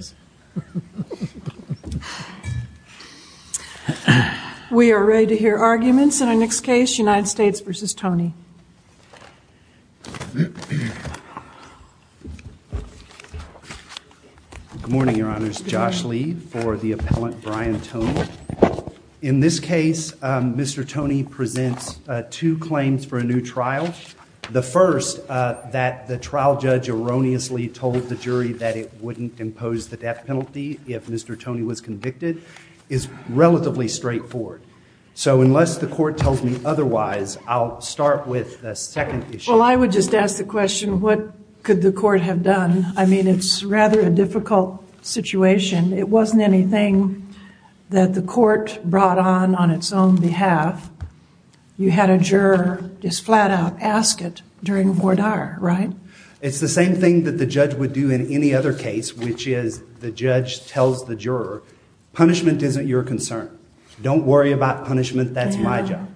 Good morning, your honors. Josh Lee for the appellant Brian Tone. In this case, Mr. Tony presents two claims for a new trial. The first, that the trial judge erroneously told the death penalty if Mr. Tony was convicted, is relatively straightforward. So unless the court tells me otherwise, I'll start with the second issue. Well, I would just ask the question, what could the court have done? I mean, it's rather a difficult situation. It wasn't anything that the court brought on on its own behalf. You had a juror just flat out ask it during voir dire, right? It's the same thing that the judge would do in any other case, which is the judge tells the juror, punishment isn't your concern. Don't worry about punishment. That's my job.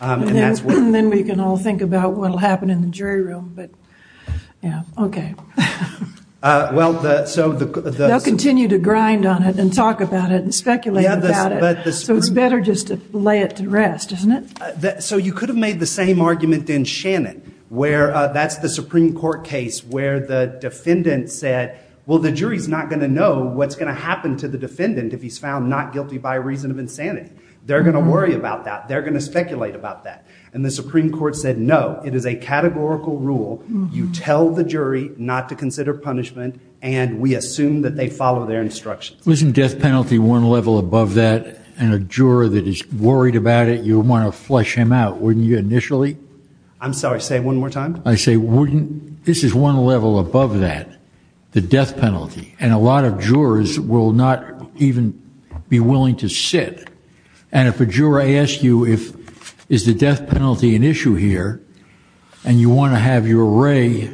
And then we can all think about what will happen in the jury room. But yeah, OK. Well, so they'll continue to grind on it and talk about it and speculate about it. So it's better just to lay it to rest, isn't it? So you could have made the same argument in Shannon, where that's the Supreme Court case where the defendant said, well, the jury is not going to know what's going to happen to the defendant if he's found not guilty by reason of insanity. They're going to worry about that. They're going to speculate about that. And the Supreme Court said, no, it is a categorical rule. You tell the jury not to consider punishment. And we assume that they follow their instructions. Wasn't death penalty one level above that? And a juror that is worried about it, you want to flush him out when you initially I'm sorry, say one more time. I say wouldn't this is one level above that, the death penalty. And a lot of jurors will not even be willing to sit. And if a juror asks you if is the death penalty an issue here and you want to have your array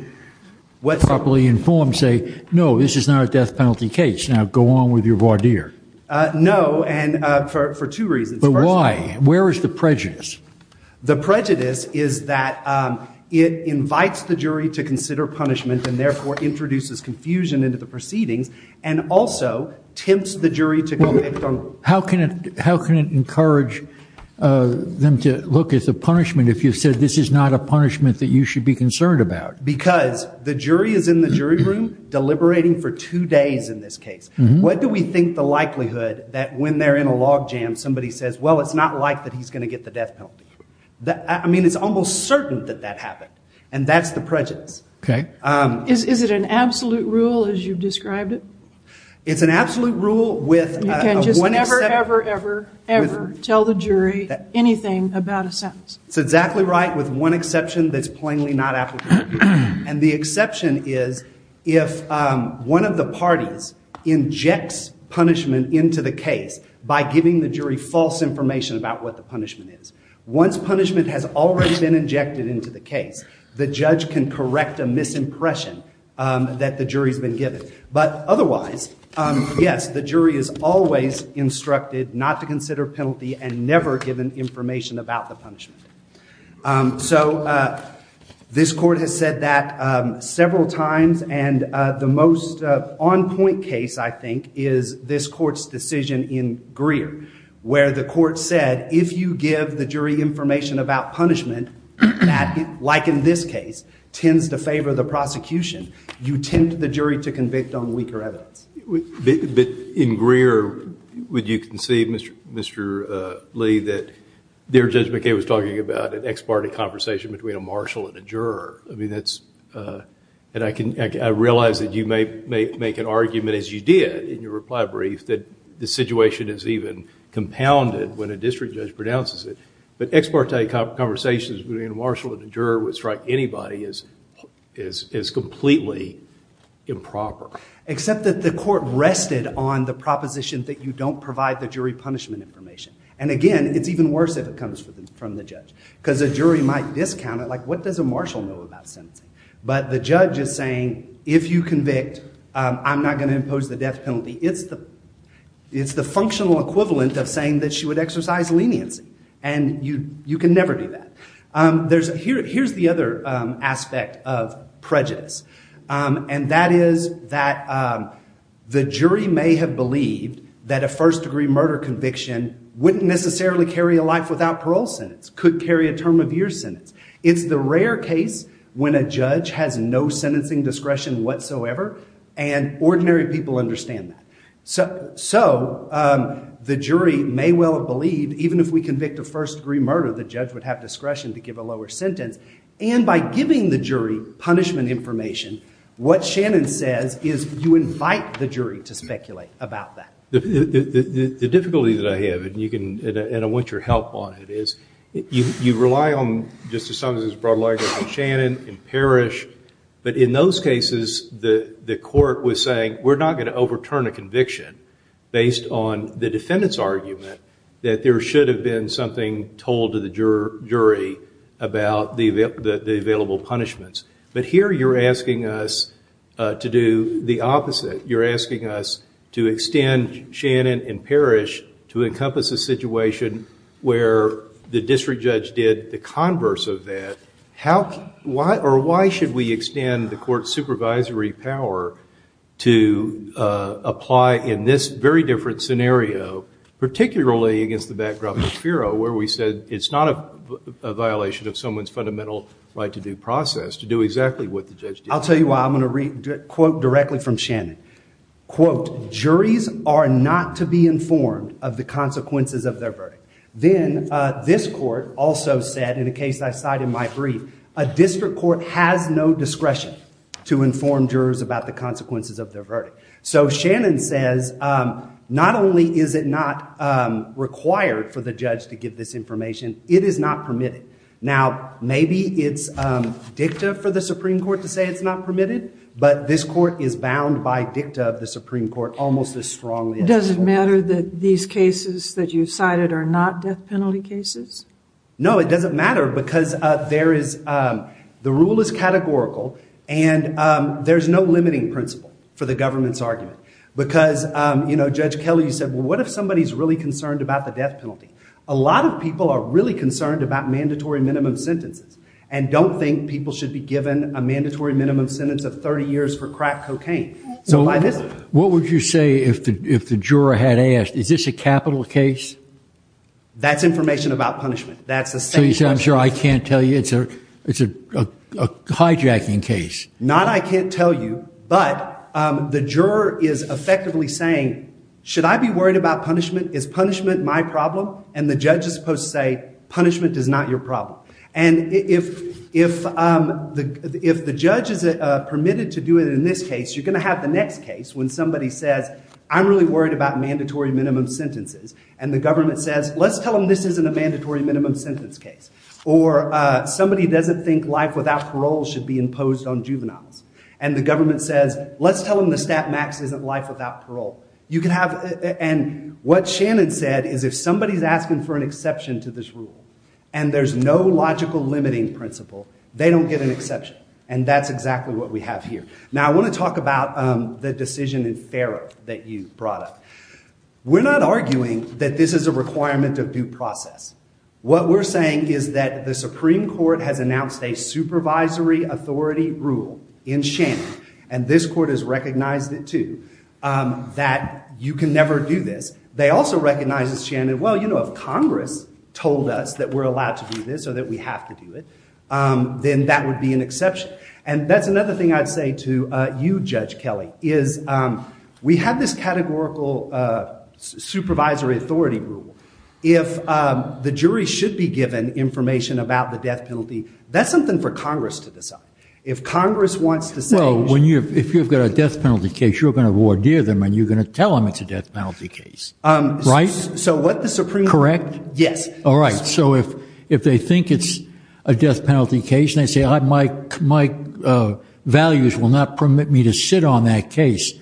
what's properly informed, say no, this is not a death penalty case. Now go on with your voir dire. No. And for two reasons. But why? Where is the prejudice? The prejudice is that it invites the jury to consider punishment and therefore introduces confusion into the proceedings and also tempts the jury to go ahead. How can it how can it encourage them to look at the punishment if you said this is not a punishment that you should be concerned about? Because the jury is in the jury room deliberating for two days in this case. What do we think the likelihood that when they're in a log jam, somebody says, well, it's not like that the death penalty. I mean, it's almost certain that that happened. And that's the prejudice. Okay. Is it an absolute rule as you've described it? It's an absolute rule with one exception. You can just never, ever, ever, ever tell the jury anything about a sentence. It's exactly right with one exception that's plainly not applicable. And the exception is if one of the parties injects punishment into the case by giving the jury false information about what the punishment is. Once punishment has already been injected into the case, the judge can correct a misimpression that the jury's been given. But otherwise, yes, the jury is always instructed not to consider penalty and never given information about the punishment. So this court has said that several times. And the most on point case, I think, is this court's decision in Greer, where the court said, if you give the jury information about punishment that, like in this case, tends to favor the prosecution, you tempt the jury to convict on weaker evidence. In Greer, would you concede, Mr. Lee, that there Judge McKay was talking about an ex parte conversation between a marshal and a juror? I mean, that's, and I realize that you may make an argument, as you did in your reply brief, that the situation is even compounded when a district judge pronounces it. But ex parte conversations between a marshal and a juror would strike anybody as completely improper. Except that the court rested on the proposition that you don't provide the jury punishment information. And again, it's even worse if it comes from the judge. Because a jury might discount it, like what does a marshal know about sentencing? But the judge is saying, if you convict, I'm not going to impose the death penalty. It's the functional equivalent of saying that she would exercise leniency. And you can never do that. Here's the other aspect of prejudice. And that is that the jury may have believed that a first degree murder conviction wouldn't necessarily carry a life without parole sentence, could carry a term of year sentence. It's the rare case when a judge has no sentencing discretion whatsoever, and ordinary people understand that. So the jury may well have believed, even if we convict a first degree murder, the judge would have discretion to give a lower sentence. And by giving the jury punishment information, what Shannon says is you invite the jury to speculate about that. The difficulty that I have, and I want your help on it, is you rely on, just as some of this is brought to light, Shannon and Parrish. But in those cases, the court was saying, we're not going to overturn a conviction based on the defendant's argument that there should have been something told to the jury about the available punishments. But here you're the opposite. You're asking us to extend Shannon and Parrish to encompass a situation where the district judge did the converse of that. Or why should we extend the court's supervisory power to apply in this very different scenario, particularly against the background of Fero, where we said it's not a violation of someone's fundamental right to due process to do exactly what the judge did. I'll tell you why. I'm going to quote directly from Shannon. Quote, juries are not to be informed of the consequences of their verdict. Then this court also said, in a case I cited in my brief, a district court has no discretion to inform jurors about the consequences of their verdict. So Shannon says, not only is it not required for the judge to give this information, it is not permitted. Now maybe it's dicta for the Supreme Court to say it's not permitted, but this court is bound by dicta of the Supreme Court almost as strongly as this court. Does it matter that these cases that you've cited are not death penalty cases? No, it doesn't matter because the rule is categorical and there's no limiting principle for the government's argument. Because Judge Kelly said, what if somebody's really concerned about the death penalty? A lot of people are really concerned about mandatory minimum sentences and don't think people should be given a mandatory minimum sentence of 30 years for crack cocaine. So what would you say if the juror had asked, is this a capital case? That's information about punishment. That's the same thing. So you say, I'm sorry, I can't tell you. It's a hijacking case. Not I can't tell you, but the juror is effectively saying, should I be worried about punishment? Is punishment my problem? And the judge is supposed to say, punishment is not your problem. And if the judge is permitted to do it in this case, you're going to have the next case when somebody says, I'm really worried about mandatory minimum sentences. And the government says, let's tell them this isn't a mandatory minimum sentence case. Or somebody doesn't think life without parole should be imposed on juveniles. And the government says, let's tell them the stat max isn't life without parole. You can have, and what Shannon said is if somebody's asking for an exception to this and there's no logical limiting principle, they don't get an exception. And that's exactly what we have here. Now I want to talk about the decision in Farrow that you brought up. We're not arguing that this is a requirement of due process. What we're saying is that the Supreme Court has announced a supervisory authority rule in Shannon. And this court has recognized it too, that you can never do this. They also recognize, Shannon, well, you know, if Congress told us that we're allowed to do this or that we have to do it, then that would be an exception. And that's another thing I'd say to you, Judge Kelly, is we have this categorical supervisory authority rule. If the jury should be given information about the death penalty, that's something for Congress to decide. If Congress wants to say. So if you've got a death penalty case, you're going to ordeer them and you're going to tell them it's a death penalty case, right? So what the Supreme Court. Correct? Yes. All right. So if they think it's a death penalty case and they say my values will not permit me to sit on that case,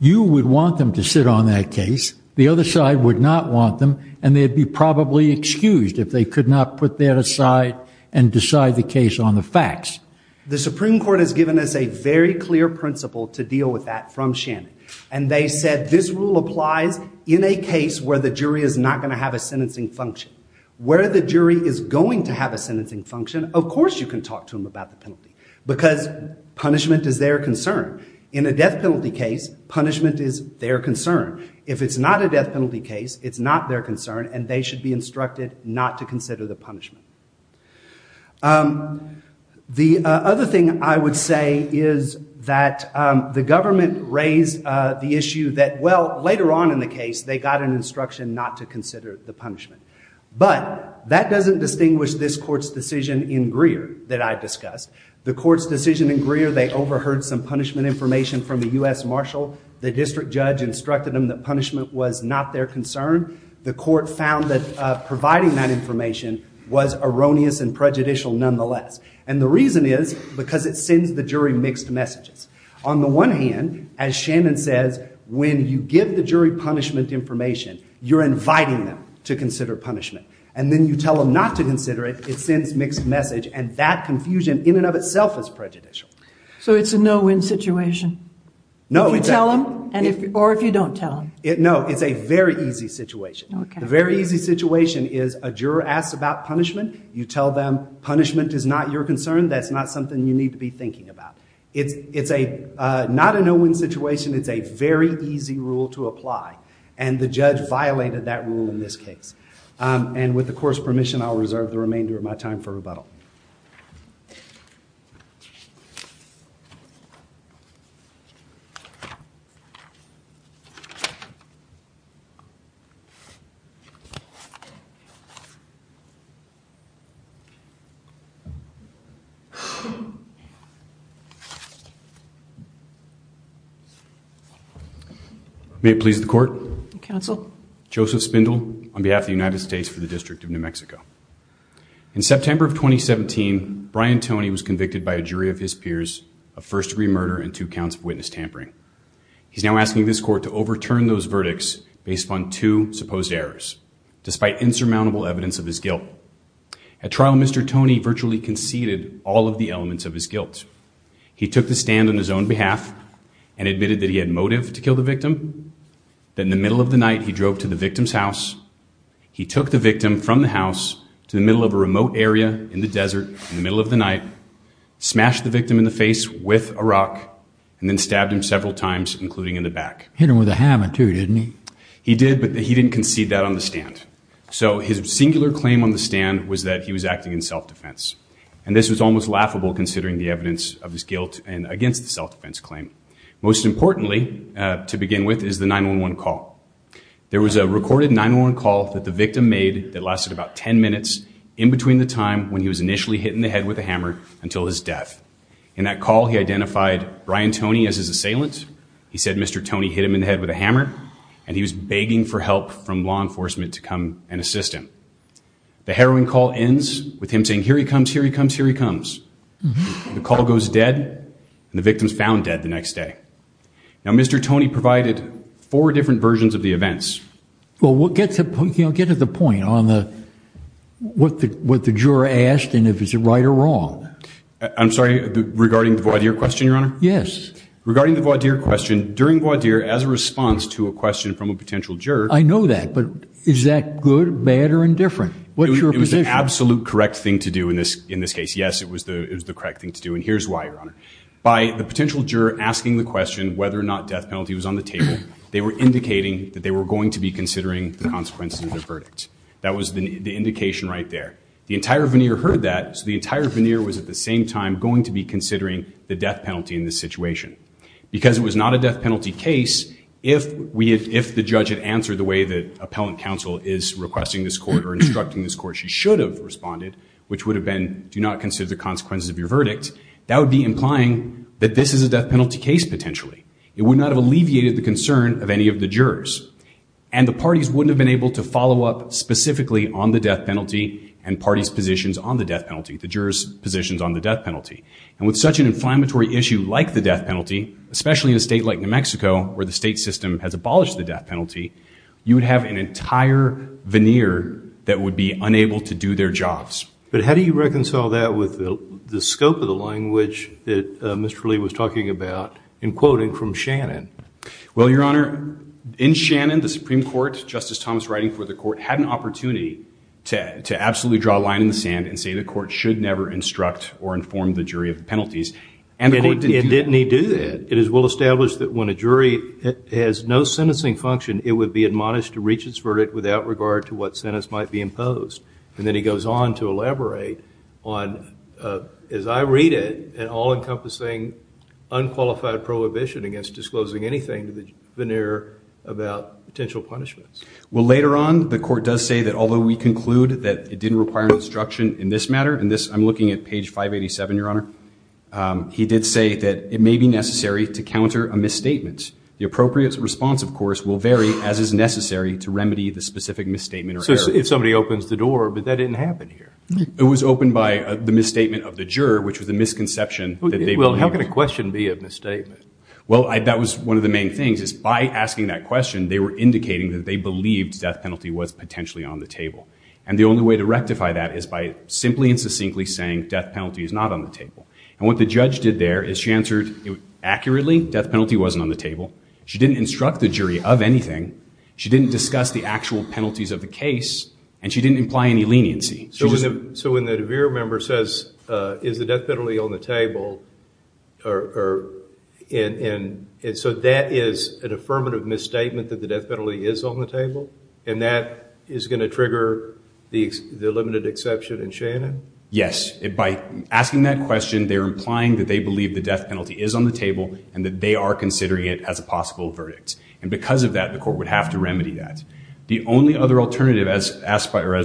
you would want them to sit on that case. The other side would not want them. And they'd be probably excused if they could not put that aside and decide the case on the facts. The Supreme Court has given us a very clear principle to deal with that from Shannon. And they said this rule applies in a case where the jury is not going to have a sentencing function. Where the jury is going to have a sentencing function, of course you can talk to them about the penalty because punishment is their concern. In a death penalty case, punishment is their concern. If it's not a death penalty case, it's not their concern and they should be instructed not to consider the punishment. The other thing I would say is that the government raised the issue that, well, later on in the case, they got an instruction not to consider the punishment. But that doesn't distinguish this court's decision in Greer that I discussed. The court's decision in Greer, they overheard some punishment information from the US Marshal. The district judge instructed them that punishment was not their concern. The court found that providing that information was a punishment. It was erroneous and prejudicial nonetheless. And the reason is because it sends the jury mixed messages. On the one hand, as Shannon says, when you give the jury punishment information, you're inviting them to consider punishment. And then you tell them not to consider it, it sends mixed message. And that confusion in and of itself is prejudicial. So it's a no-win situation? No, exactly. Or if you don't tell them? No, it's a very easy situation. The very easy situation is a juror asks about punishment. You tell them punishment is not your concern. That's not something you need to be thinking about. It's not a no-win situation. It's a very easy rule to apply. And the judge violated that rule in this case. And with the court's permission, I'll reserve the remainder of my time for rebuttal. May it please the court. Counsel. Joseph Spindle on behalf of the United States for the District of New Mexico. In September of 2017, Brian Toney was convicted by a jury of his peers of first degree murder and two counts of witness tampering. He's now asking this court to overturn those verdicts based upon two supposed errors, despite insurmountable evidence of his guilt. At trial, Mr. Toney virtually conceded all of the elements of his guilt. He took the stand on his own behalf and admitted that he had motive to kill the victim. Then in the middle of the night, he drove to the victim's house. He took the victim from the house to the middle of a remote area in the desert in the middle of the night, smashed the victim in the face with a rock and then stabbed him several times, including in the back. Hit him with a hammer too, didn't he? He did, but he didn't concede that on the stand. So his singular claim on the stand was that he was acting in self-defense. And this was almost laughable considering the evidence of his guilt and against the self-defense claim. Most importantly, to begin with, is the 911 call. There was a recorded 911 call that the victim made that lasted about 10 minutes in between the time when he was initially hit in the head with a hammer until his death. In that call, he identified Brian Toney as his assailant. He said Mr. Toney hit him in the head with a hammer and he was begging for help from law enforcement to come and assist him. The harrowing call ends with him saying, here he comes, here he comes, here he comes. The call goes dead and the victim's found dead the next day. Well, get to the point on what the juror asked and if it's right or wrong. I'm sorry, regarding the voir dire question, Your Honor? Yes. Regarding the voir dire question, during voir dire, as a response to a question from a potential juror. I know that, but is that good, bad, or indifferent? What's your position? It was the absolute correct thing to do in this case. Yes, it was the correct thing to do. And here's why, Your Honor. By the potential juror asking the question whether or not death penalty was on the case, he was going to be considering the consequences of the verdict. That was the indication right there. The entire veneer heard that, so the entire veneer was, at the same time, going to be considering the death penalty in this situation. Because it was not a death penalty case, if the judge had answered the way that appellant counsel is requesting this court or instructing this court she should have responded, which would have been, do not consider the consequences of your verdict. That would be implying that this is a death penalty case, potentially. It would not have alleviated the concern of any of the jurors. And the parties wouldn't have been able to follow up specifically on the death penalty and parties' positions on the death penalty, the jurors' positions on the death penalty. And with such an inflammatory issue like the death penalty, especially in a state like New Mexico, where the state system has abolished the death penalty, you would have an entire veneer that would be unable to do their jobs. But how do you reconcile that with the scope of the language that Mr. Lee was talking about in quoting from Shannon? Well, Your Honor, in Shannon, the Supreme Court, Justice Thomas writing for the court, had an opportunity to absolutely draw a line in the sand and say the court should never instruct or inform the jury of penalties. And the court didn't do that. It is well established that when a jury has no sentencing function, it would be admonished to reach its verdict without regard to what sentence might be imposed. And then he goes on to elaborate on, as I read it, an all-encompassing unqualified prohibition against disclosing anything to the veneer about potential punishments. Well, later on, the court does say that although we conclude that it didn't require instruction in this matter, and I'm looking at page 587, Your Honor, he did say that it may be necessary to counter a misstatement. The appropriate response, of course, will vary as is necessary to remedy the specific misstatement or error. So if somebody opens the door, but that didn't happen here. It was opened by the misstatement of the juror, which was a misconception that they believed. Well, how can a question be a misstatement? Well, that was one of the main things, is by asking that question, they were indicating that they believed death penalty was potentially on the table. And the only way to rectify that is by simply and succinctly saying, death penalty is not on the table. And what the judge did there is she answered accurately, death penalty wasn't on the table. She didn't instruct the jury of anything. She didn't discuss the actual penalties of the case. And she didn't imply any leniency. So when the DeVere member says, is the death penalty on the table, and so that is an affirmative misstatement that the death penalty is on the table? And that is going to trigger the limited exception in Shannon? Yes. By asking that question, they're implying that they believe the death penalty is on the table, and that they are considering it as a possible verdict. And because of that, the court would have to remedy that. The only other alternative, as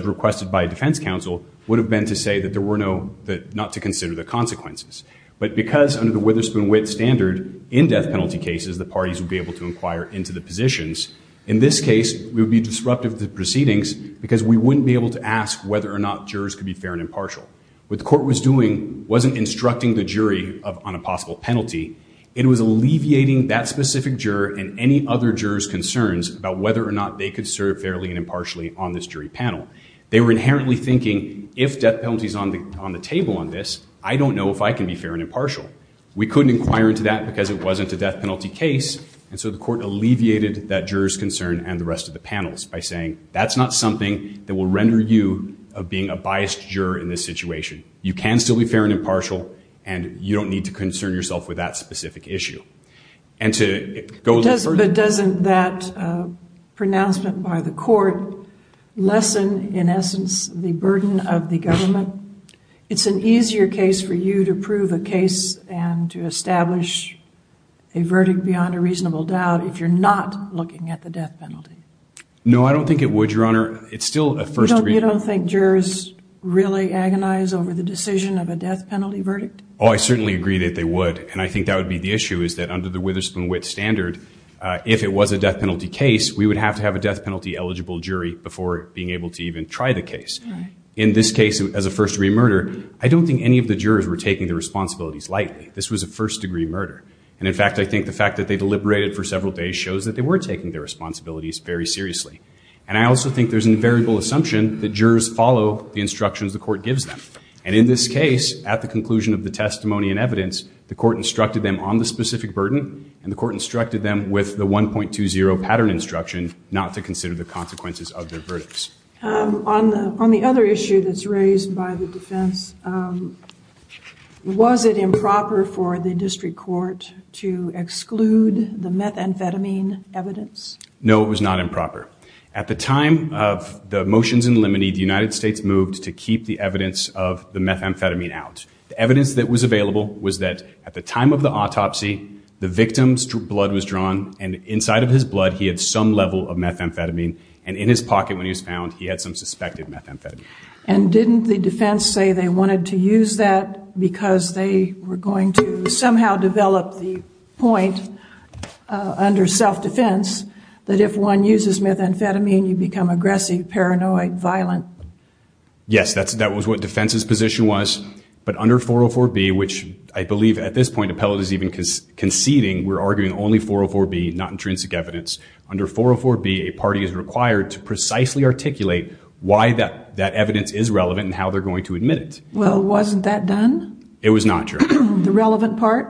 requested by a defense counsel, would have been to say that there were no, not to consider the consequences. But because under the Witherspoon-Witt standard, in death penalty cases, the parties would be able to inquire into the positions. In this case, we would be disruptive of the proceedings because we wouldn't be able to ask whether or not jurors could be fair and impartial. What the court was doing wasn't instructing the jury on a possible penalty. It was alleviating that specific juror and any other juror's concerns about whether or not they could serve fairly and impartially on this jury panel. They were inherently thinking, if death penalty is on the table on this, I don't know if I can be fair and impartial. We couldn't inquire into that because it wasn't a death penalty case. And so the court alleviated that juror's concern and the rest of the panels by saying, that's not something that will render you of being a biased juror in this situation. You can still be fair and impartial, and you don't need to concern yourself with that specific issue. And to go a little further. But doesn't that pronouncement by the court lessen, in essence, the burden of the government? It's an easier case for you to prove a case and to establish a verdict beyond a reasonable doubt if you're not looking at the death penalty. No, I don't think it would, Your Honor. It's still a first degree. You don't think jurors really agonize over the decision of a death penalty verdict? Oh, I certainly agree that they would. And I think that would be the issue, is that under the Witherspoon Witt standard, if it was a death penalty case, we would have to have a death penalty eligible jury before being able to even try the case. In this case, as a first degree murder, I don't think any of the jurors were taking the responsibilities lightly. This was a first degree murder. And in fact, I think the fact that they deliberated for several days shows that they were taking their responsibilities very seriously. And I also think there's an invariable assumption that jurors follow the instructions the court gives them. And in this case, at the conclusion of the testimony and evidence, the court instructed them on the specific burden. And the court instructed them with the 1.20 pattern instruction not to consider the consequences of their verdicts. On the other issue that's raised by the defense, was it improper for the district court to exclude the methamphetamine evidence? No, it was not improper. At the time of the motions in limine, the United States moved to keep the evidence of the methamphetamine out. The evidence that was available was that at the time of the autopsy, the victim's blood was drawn. And inside of his blood, he had some level of methamphetamine. And in his pocket when he was found, he had some suspected methamphetamine. And didn't the defense say they wanted to use that because they were going to somehow develop the point under self-defense that if one uses methamphetamine, you become aggressive, paranoid, violent? Yes, that was what defense's position was. But under 404B, which I believe at this point appellate is even conceding, we're arguing only 404B, not intrinsic evidence. Under 404B, a party is required to precisely articulate why that evidence is relevant and how they're going to admit it. Well, wasn't that done? It was not, Your Honor. The relevant part?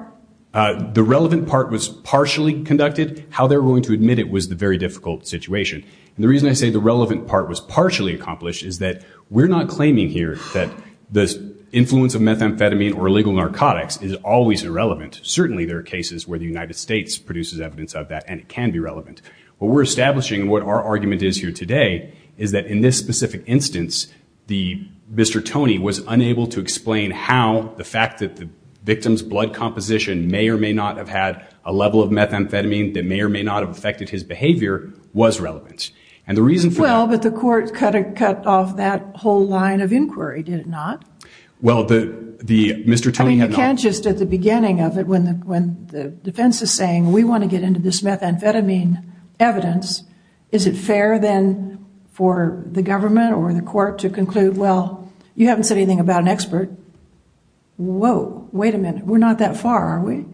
The relevant part was partially conducted. How they're going to admit it was the very difficult situation. And the reason I say the relevant part was partially accomplished is that we're not claiming here that the influence of methamphetamine or illegal narcotics is always irrelevant. Certainly there are cases where the United States produces evidence of that and it can be relevant. What we're establishing, what our argument is here today, is that in this specific instance, Mr. Tony was unable to explain how the fact that the victim's blood composition may or may not have had a level of methamphetamine that may or may not have affected his behavior was relevant. Well, but the court cut off that whole line of inquiry, did it not? Well, the Mr. Tony had not. I mean, you can't just at the beginning of it, when the defense is saying, we want to get into this methamphetamine evidence, is it fair then for the government or the court to conclude, well, you haven't said anything about an expert. Whoa, wait a minute. We're not that far, are we?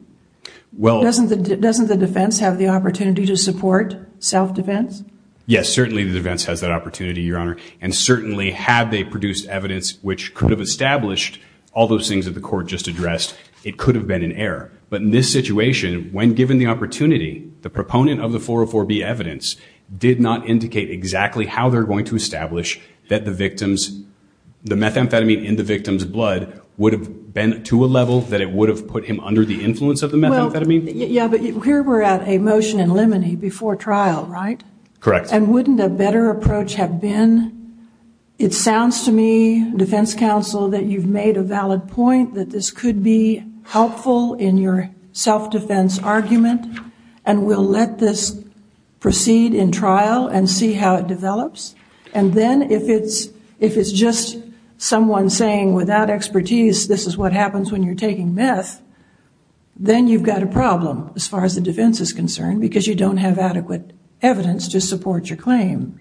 Well, doesn't the defense have the opportunity to support self-defense? Yes, certainly the defense has that opportunity, Your Honor. And certainly had they produced evidence which could have established all those things that the court just addressed, it could have been an error. But in this situation, when given the opportunity, the proponent of the 404B evidence did not indicate exactly how they're going to establish that the victim's, the methamphetamine in the victim's blood would have been to a level that it would have put him under the influence of the methamphetamine? Yeah, but here we're at a motion in limine before trial, right? Correct. And wouldn't a better approach have been, it sounds to me, defense counsel, that you've made a valid point that this could be helpful in your self-defense argument, and we'll let this proceed in trial and see how it develops. And then if it's just someone saying, without expertise, this is what happens when you're taking meth, then you've got a problem as far as the defense is concerned, because you don't have adequate evidence to support your claim.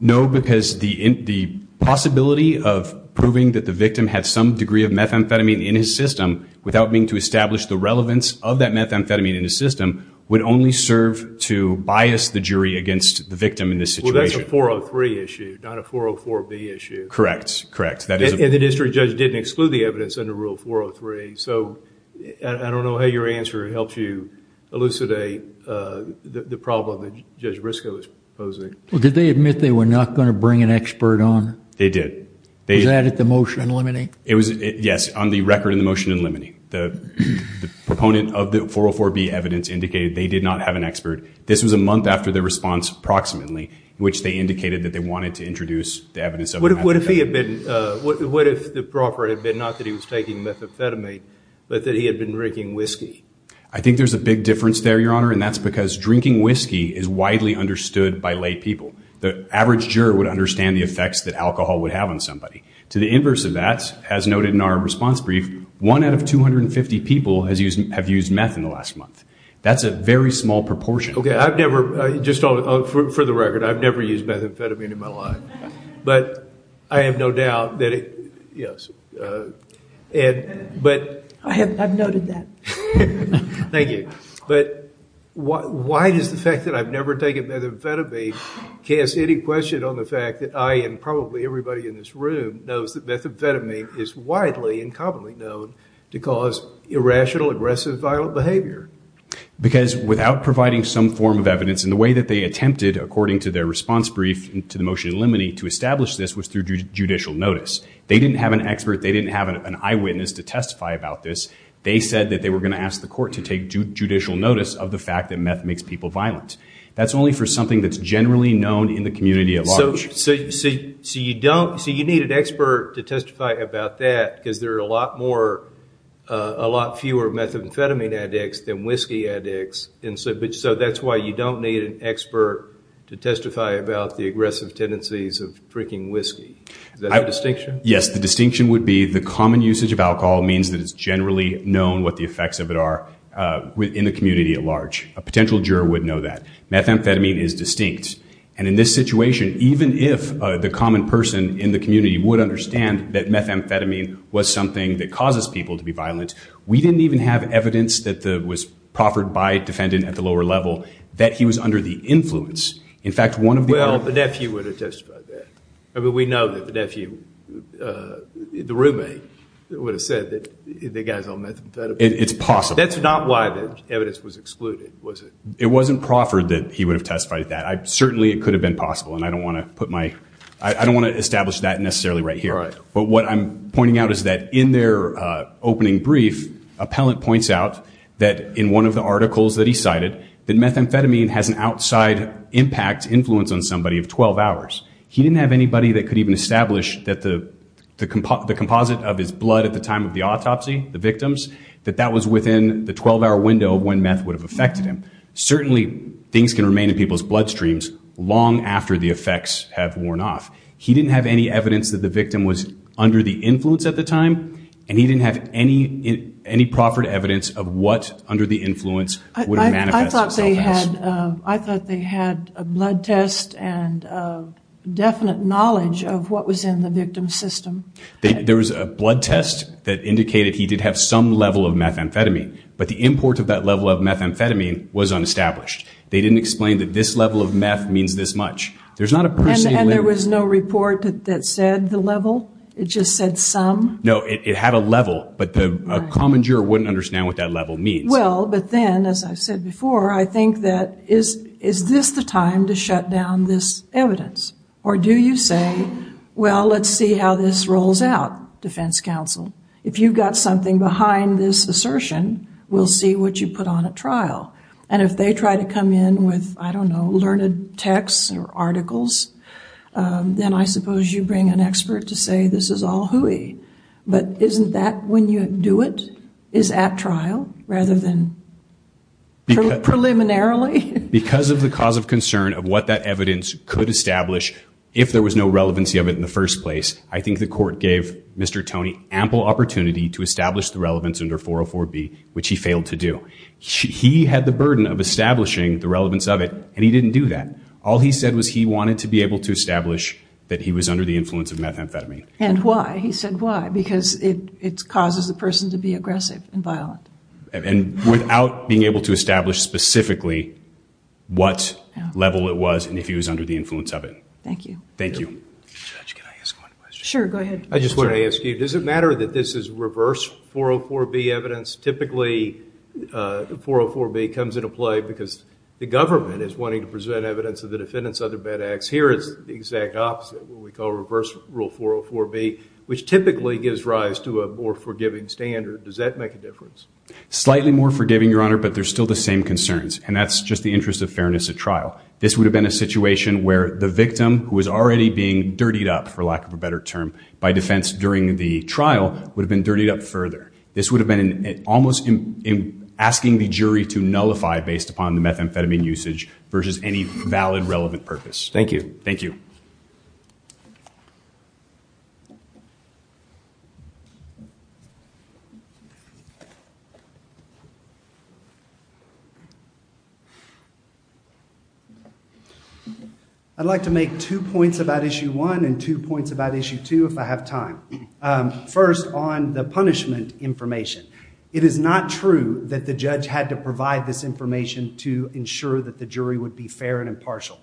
No, because the possibility of proving that the victim had some degree of methamphetamine in his system without being to establish the relevance of that methamphetamine in his system would only serve to bias the jury against the victim in this situation. Well, that's a 403 issue, not a 404B issue. Correct, correct. And the district judge didn't exclude the evidence under Rule 403. So I don't know how your answer helps you elucidate the problem that Judge Briscoe is posing. Well, did they admit they were not going to bring an expert on? They did. Was that at the motion in limine? Yes, on the record in the motion in limine. The proponent of the 404B evidence indicated they did not have an expert. This was a month after the response, approximately, which they indicated that they wanted to introduce the evidence of methamphetamine. What if the proffer had been not that he was taking methamphetamine, but that he had been drinking whiskey? I think there's a big difference there, Your Honor, and that's because drinking whiskey is widely understood by lay people. The average juror would understand the effects that alcohol would have on somebody. To the inverse of that, as noted in our response brief, one out of 250 people have used meth in the last month. That's a very small proportion. OK, I've never, just for the record, I've never used methamphetamine in my life. But I have no doubt that it, yes, but... I have noted that. Thank you. But why does the fact that I've never taken methamphetamine cast any question on the fact that I, and probably everybody in this room, knows that methamphetamine is widely and commonly known to cause irrational, aggressive, violent behavior? Because without providing some form of evidence, and the way that they attempted, according to their response brief to the motion of limine, to establish this was through judicial notice. They didn't have an expert, they didn't have an eyewitness to testify about this. They said that they were going to ask the court to take judicial notice of the fact that meth makes people violent. That's only for something that's generally known in the community at large. So you don't, so you need an expert to testify about that, because there are a lot more, a lot fewer methamphetamine addicts than whiskey addicts. And so that's why you don't need an expert to testify about the aggressive tendencies of drinking whiskey. Is that the distinction? Yes, the distinction would be the common usage of alcohol means that it's generally known what the effects of it are in the community at large. A potential juror would know that. Methamphetamine is distinct. And in this situation, even if the common person in the community would understand that methamphetamine was something that causes people to be violent, we didn't even have evidence that was proffered by a defendant at the lower level that he was under the influence. In fact, one of the- Well, the nephew would have testified that. I mean, we know that the nephew, the roommate, would have said that the guy's on methamphetamine. It's possible. That's not why the evidence was excluded, was it? It wasn't proffered that he would have testified that. Certainly, it could have been possible, and I don't want to put my, I don't want to establish that necessarily right here. But what I'm pointing out is that in their opening brief, appellant points out that in one of the articles that he cited, that methamphetamine has an outside impact, influence on somebody of 12 hours. He didn't have anybody that could even establish that the composite of his blood at the time of the autopsy, the victims, that that was within the 12-hour window of when meth would have affected him. Certainly, things can remain in people's bloodstreams long after the effects have worn off. He didn't have any evidence that the victim was under the influence at the time, and he didn't have any proffered evidence of what, under the influence, would have manifested itself as. I thought they had a blood test and a definite knowledge of what was in the victim's system. There was a blood test that indicated he did have some level of methamphetamine, but the import of that level of methamphetamine was unestablished. They didn't explain that this level of meth means this much. There's not a person... And there was no report that said the level? It just said some? No, it had a level, but a common juror wouldn't understand what that level means. Well, but then, as I said before, I think that, is this the time to shut down this evidence? Or do you say, well, let's see how this rolls out, Defense Counsel? If you've got something behind this assertion, we'll see what you put on at trial. And if they try to come in with, I don't know, learned texts or articles, then I suppose you bring an expert to say this is all hooey. But isn't that when you do it, is at trial, rather than preliminarily? Because of the cause of concern of what that evidence could establish, if there was no relevancy of it in the first place, I think the court gave Mr. Toney ample opportunity to establish the relevance under 404B, which he failed to do. He had the burden of establishing the relevance of it, and he didn't do that. All he said was he wanted to be able to establish that he was under the influence of methamphetamine. And why? He said why, because it causes the person to be aggressive and violent. And without being able to establish specifically what level it was and if he was under the influence of it. Thank you. Thank you. Judge, can I ask one question? Sure, go ahead. I just want to ask you, does it matter that this is reverse 404B evidence? Typically, 404B comes into play because the government is wanting to present evidence of the defendant's other bad acts. Here, it's the exact opposite, what we call reverse rule 404B, which typically gives rise to a more forgiving standard. Does that make a difference? Slightly more forgiving, Your Honor, but there's still the same concerns. And that's just the interest of fairness at trial. This would have been a situation where the victim, who was already being dirtied up, for lack of a better term, by defense during the trial, would have been dirtied up further. This would have been almost asking the jury to nullify based upon the methamphetamine usage versus any valid relevant purpose. Thank you. Thank you. Thank you. I'd like to make two points about issue one and two points about issue two if I have time. First, on the punishment information. It is not true that the judge had to provide this information to ensure that the jury would be fair and impartial.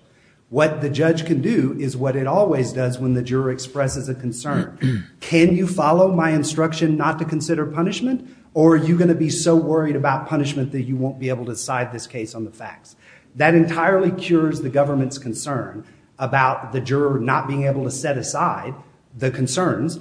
What the judge can do is what it always does when the juror expresses a concern. Can you follow my instruction not to consider punishment? Or are you going to be so worried about punishment that you won't be able to side this case on the facts? That entirely cures the government's concern about the juror not being able to set aside the concerns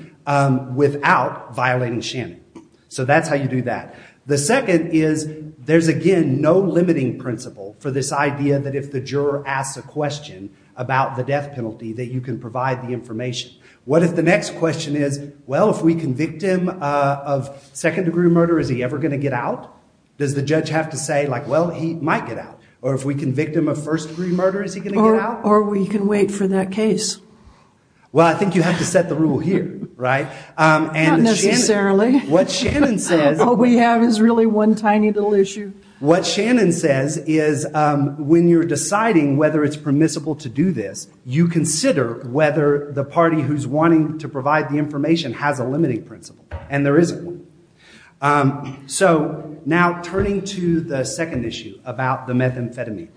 without violating Shannon. So that's how you do that. The second is there's, again, no limiting principle for this idea that if the juror asks a question about the death penalty that you can provide the information. What if the next question is, well, if we convict him of second degree murder, is he ever going to get out? Does the judge have to say, well, he might get out? Or if we convict him of first degree murder, is he going to get out? Or we can wait for that case. Well, I think you have to set the rule here, right? Not necessarily. What Shannon says is when you're deciding whether it's permissible to do this, you consider whether the party who's wanting to provide the information has a limiting principle. And there isn't one. So now turning to the second issue about the methamphetamine.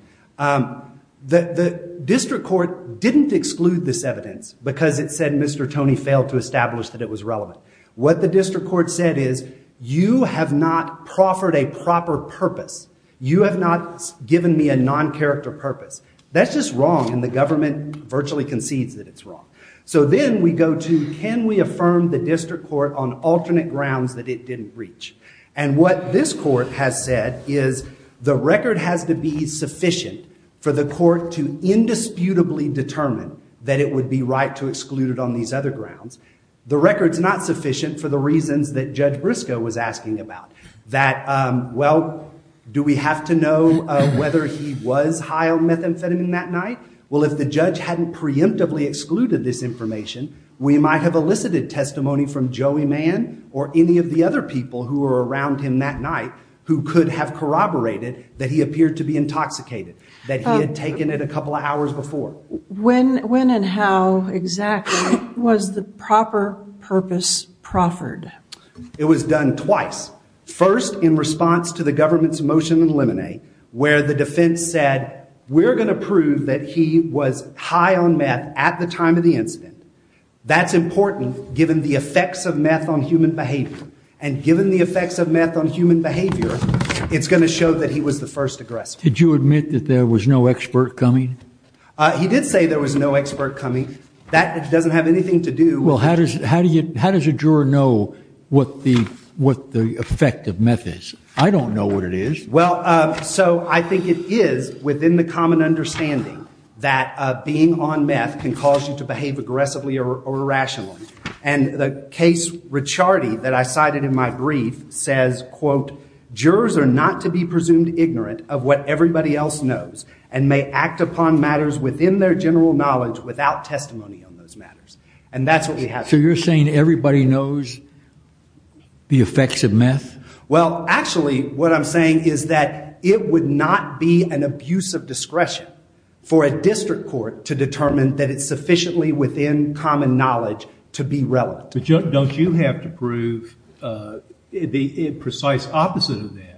The district court didn't exclude this evidence because it said Mr. Tony failed to establish that it was relevant. What the district court said is, you have not proffered a proper purpose. You have not given me a non-character purpose. That's just wrong, and the government virtually concedes that it's wrong. So then we go to, can we affirm the district court on alternate grounds that it didn't breach? And what this court has said is, the record has to be sufficient for the court to indisputably determine that it would be right to exclude it on these other grounds. The record's not sufficient for the reasons that Judge Briscoe was asking about, that, well, do we have to know whether he was high on methamphetamine that night? Well, if the judge hadn't preemptively excluded this information, we might have elicited testimony from Joey Mann or any of the other people who were around him that night who could have corroborated that he appeared to be intoxicated, that he had taken it a couple of hours before. When and how exactly was the proper purpose proffered? It was done twice. First, in response to the government's motion in Limine, where the defense said, we're going to prove that he was high on meth at the time of the incident. That's important, given the effects of meth on human behavior. And given the effects of meth on human behavior, it's going to show that he was the first aggressor. Did you admit that there was no expert coming? He did say there was no expert coming. That doesn't have anything to do with it. How does a juror know what the effect of meth is? I don't know what it is. Well, so I think it is within the common understanding that being on meth can cause you to behave aggressively or irrationally. And the case, Ricciardi, that I cited in my brief, says, quote, jurors are not to be presumed ignorant of what everybody else knows and may act upon matters on those matters. And that's what we have to do. So you're saying everybody knows the effects of meth? Well, actually, what I'm saying is that it would not be an abuse of discretion for a district court to determine that it's sufficiently within common knowledge to be relevant. Don't you have to prove the precise opposite of that?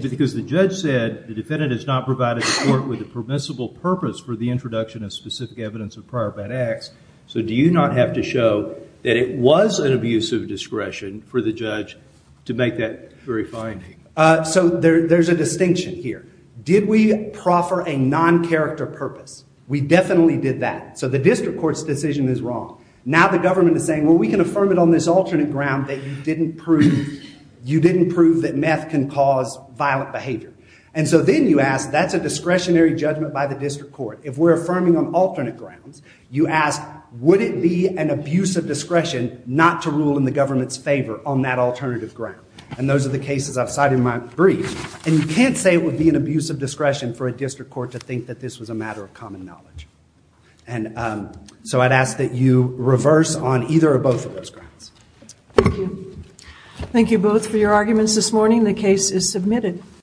Because the judge said the defendant has not provided the court with a permissible purpose for the introduction of specific evidence of prior bad acts. So do you not have to show that it was an abuse of discretion for the judge to make that very finding? So there's a distinction here. Did we proffer a non-character purpose? We definitely did that. So the district court's decision is wrong. Now the government is saying, well, we can affirm it on this alternate ground that you didn't prove that meth can cause violent behavior. And so then you ask, that's a discretionary judgment by the district court. If we're affirming on alternate grounds, you ask, would it be an abuse of discretion not to rule in the government's favor on that alternative ground? And those are the cases I've cited in my brief. And you can't say it would be an abuse of discretion for a district court to think that this was a matter of common knowledge. And so I'd ask that you reverse on either or both of those grounds. Thank you both for your arguments this morning. The case is submitted.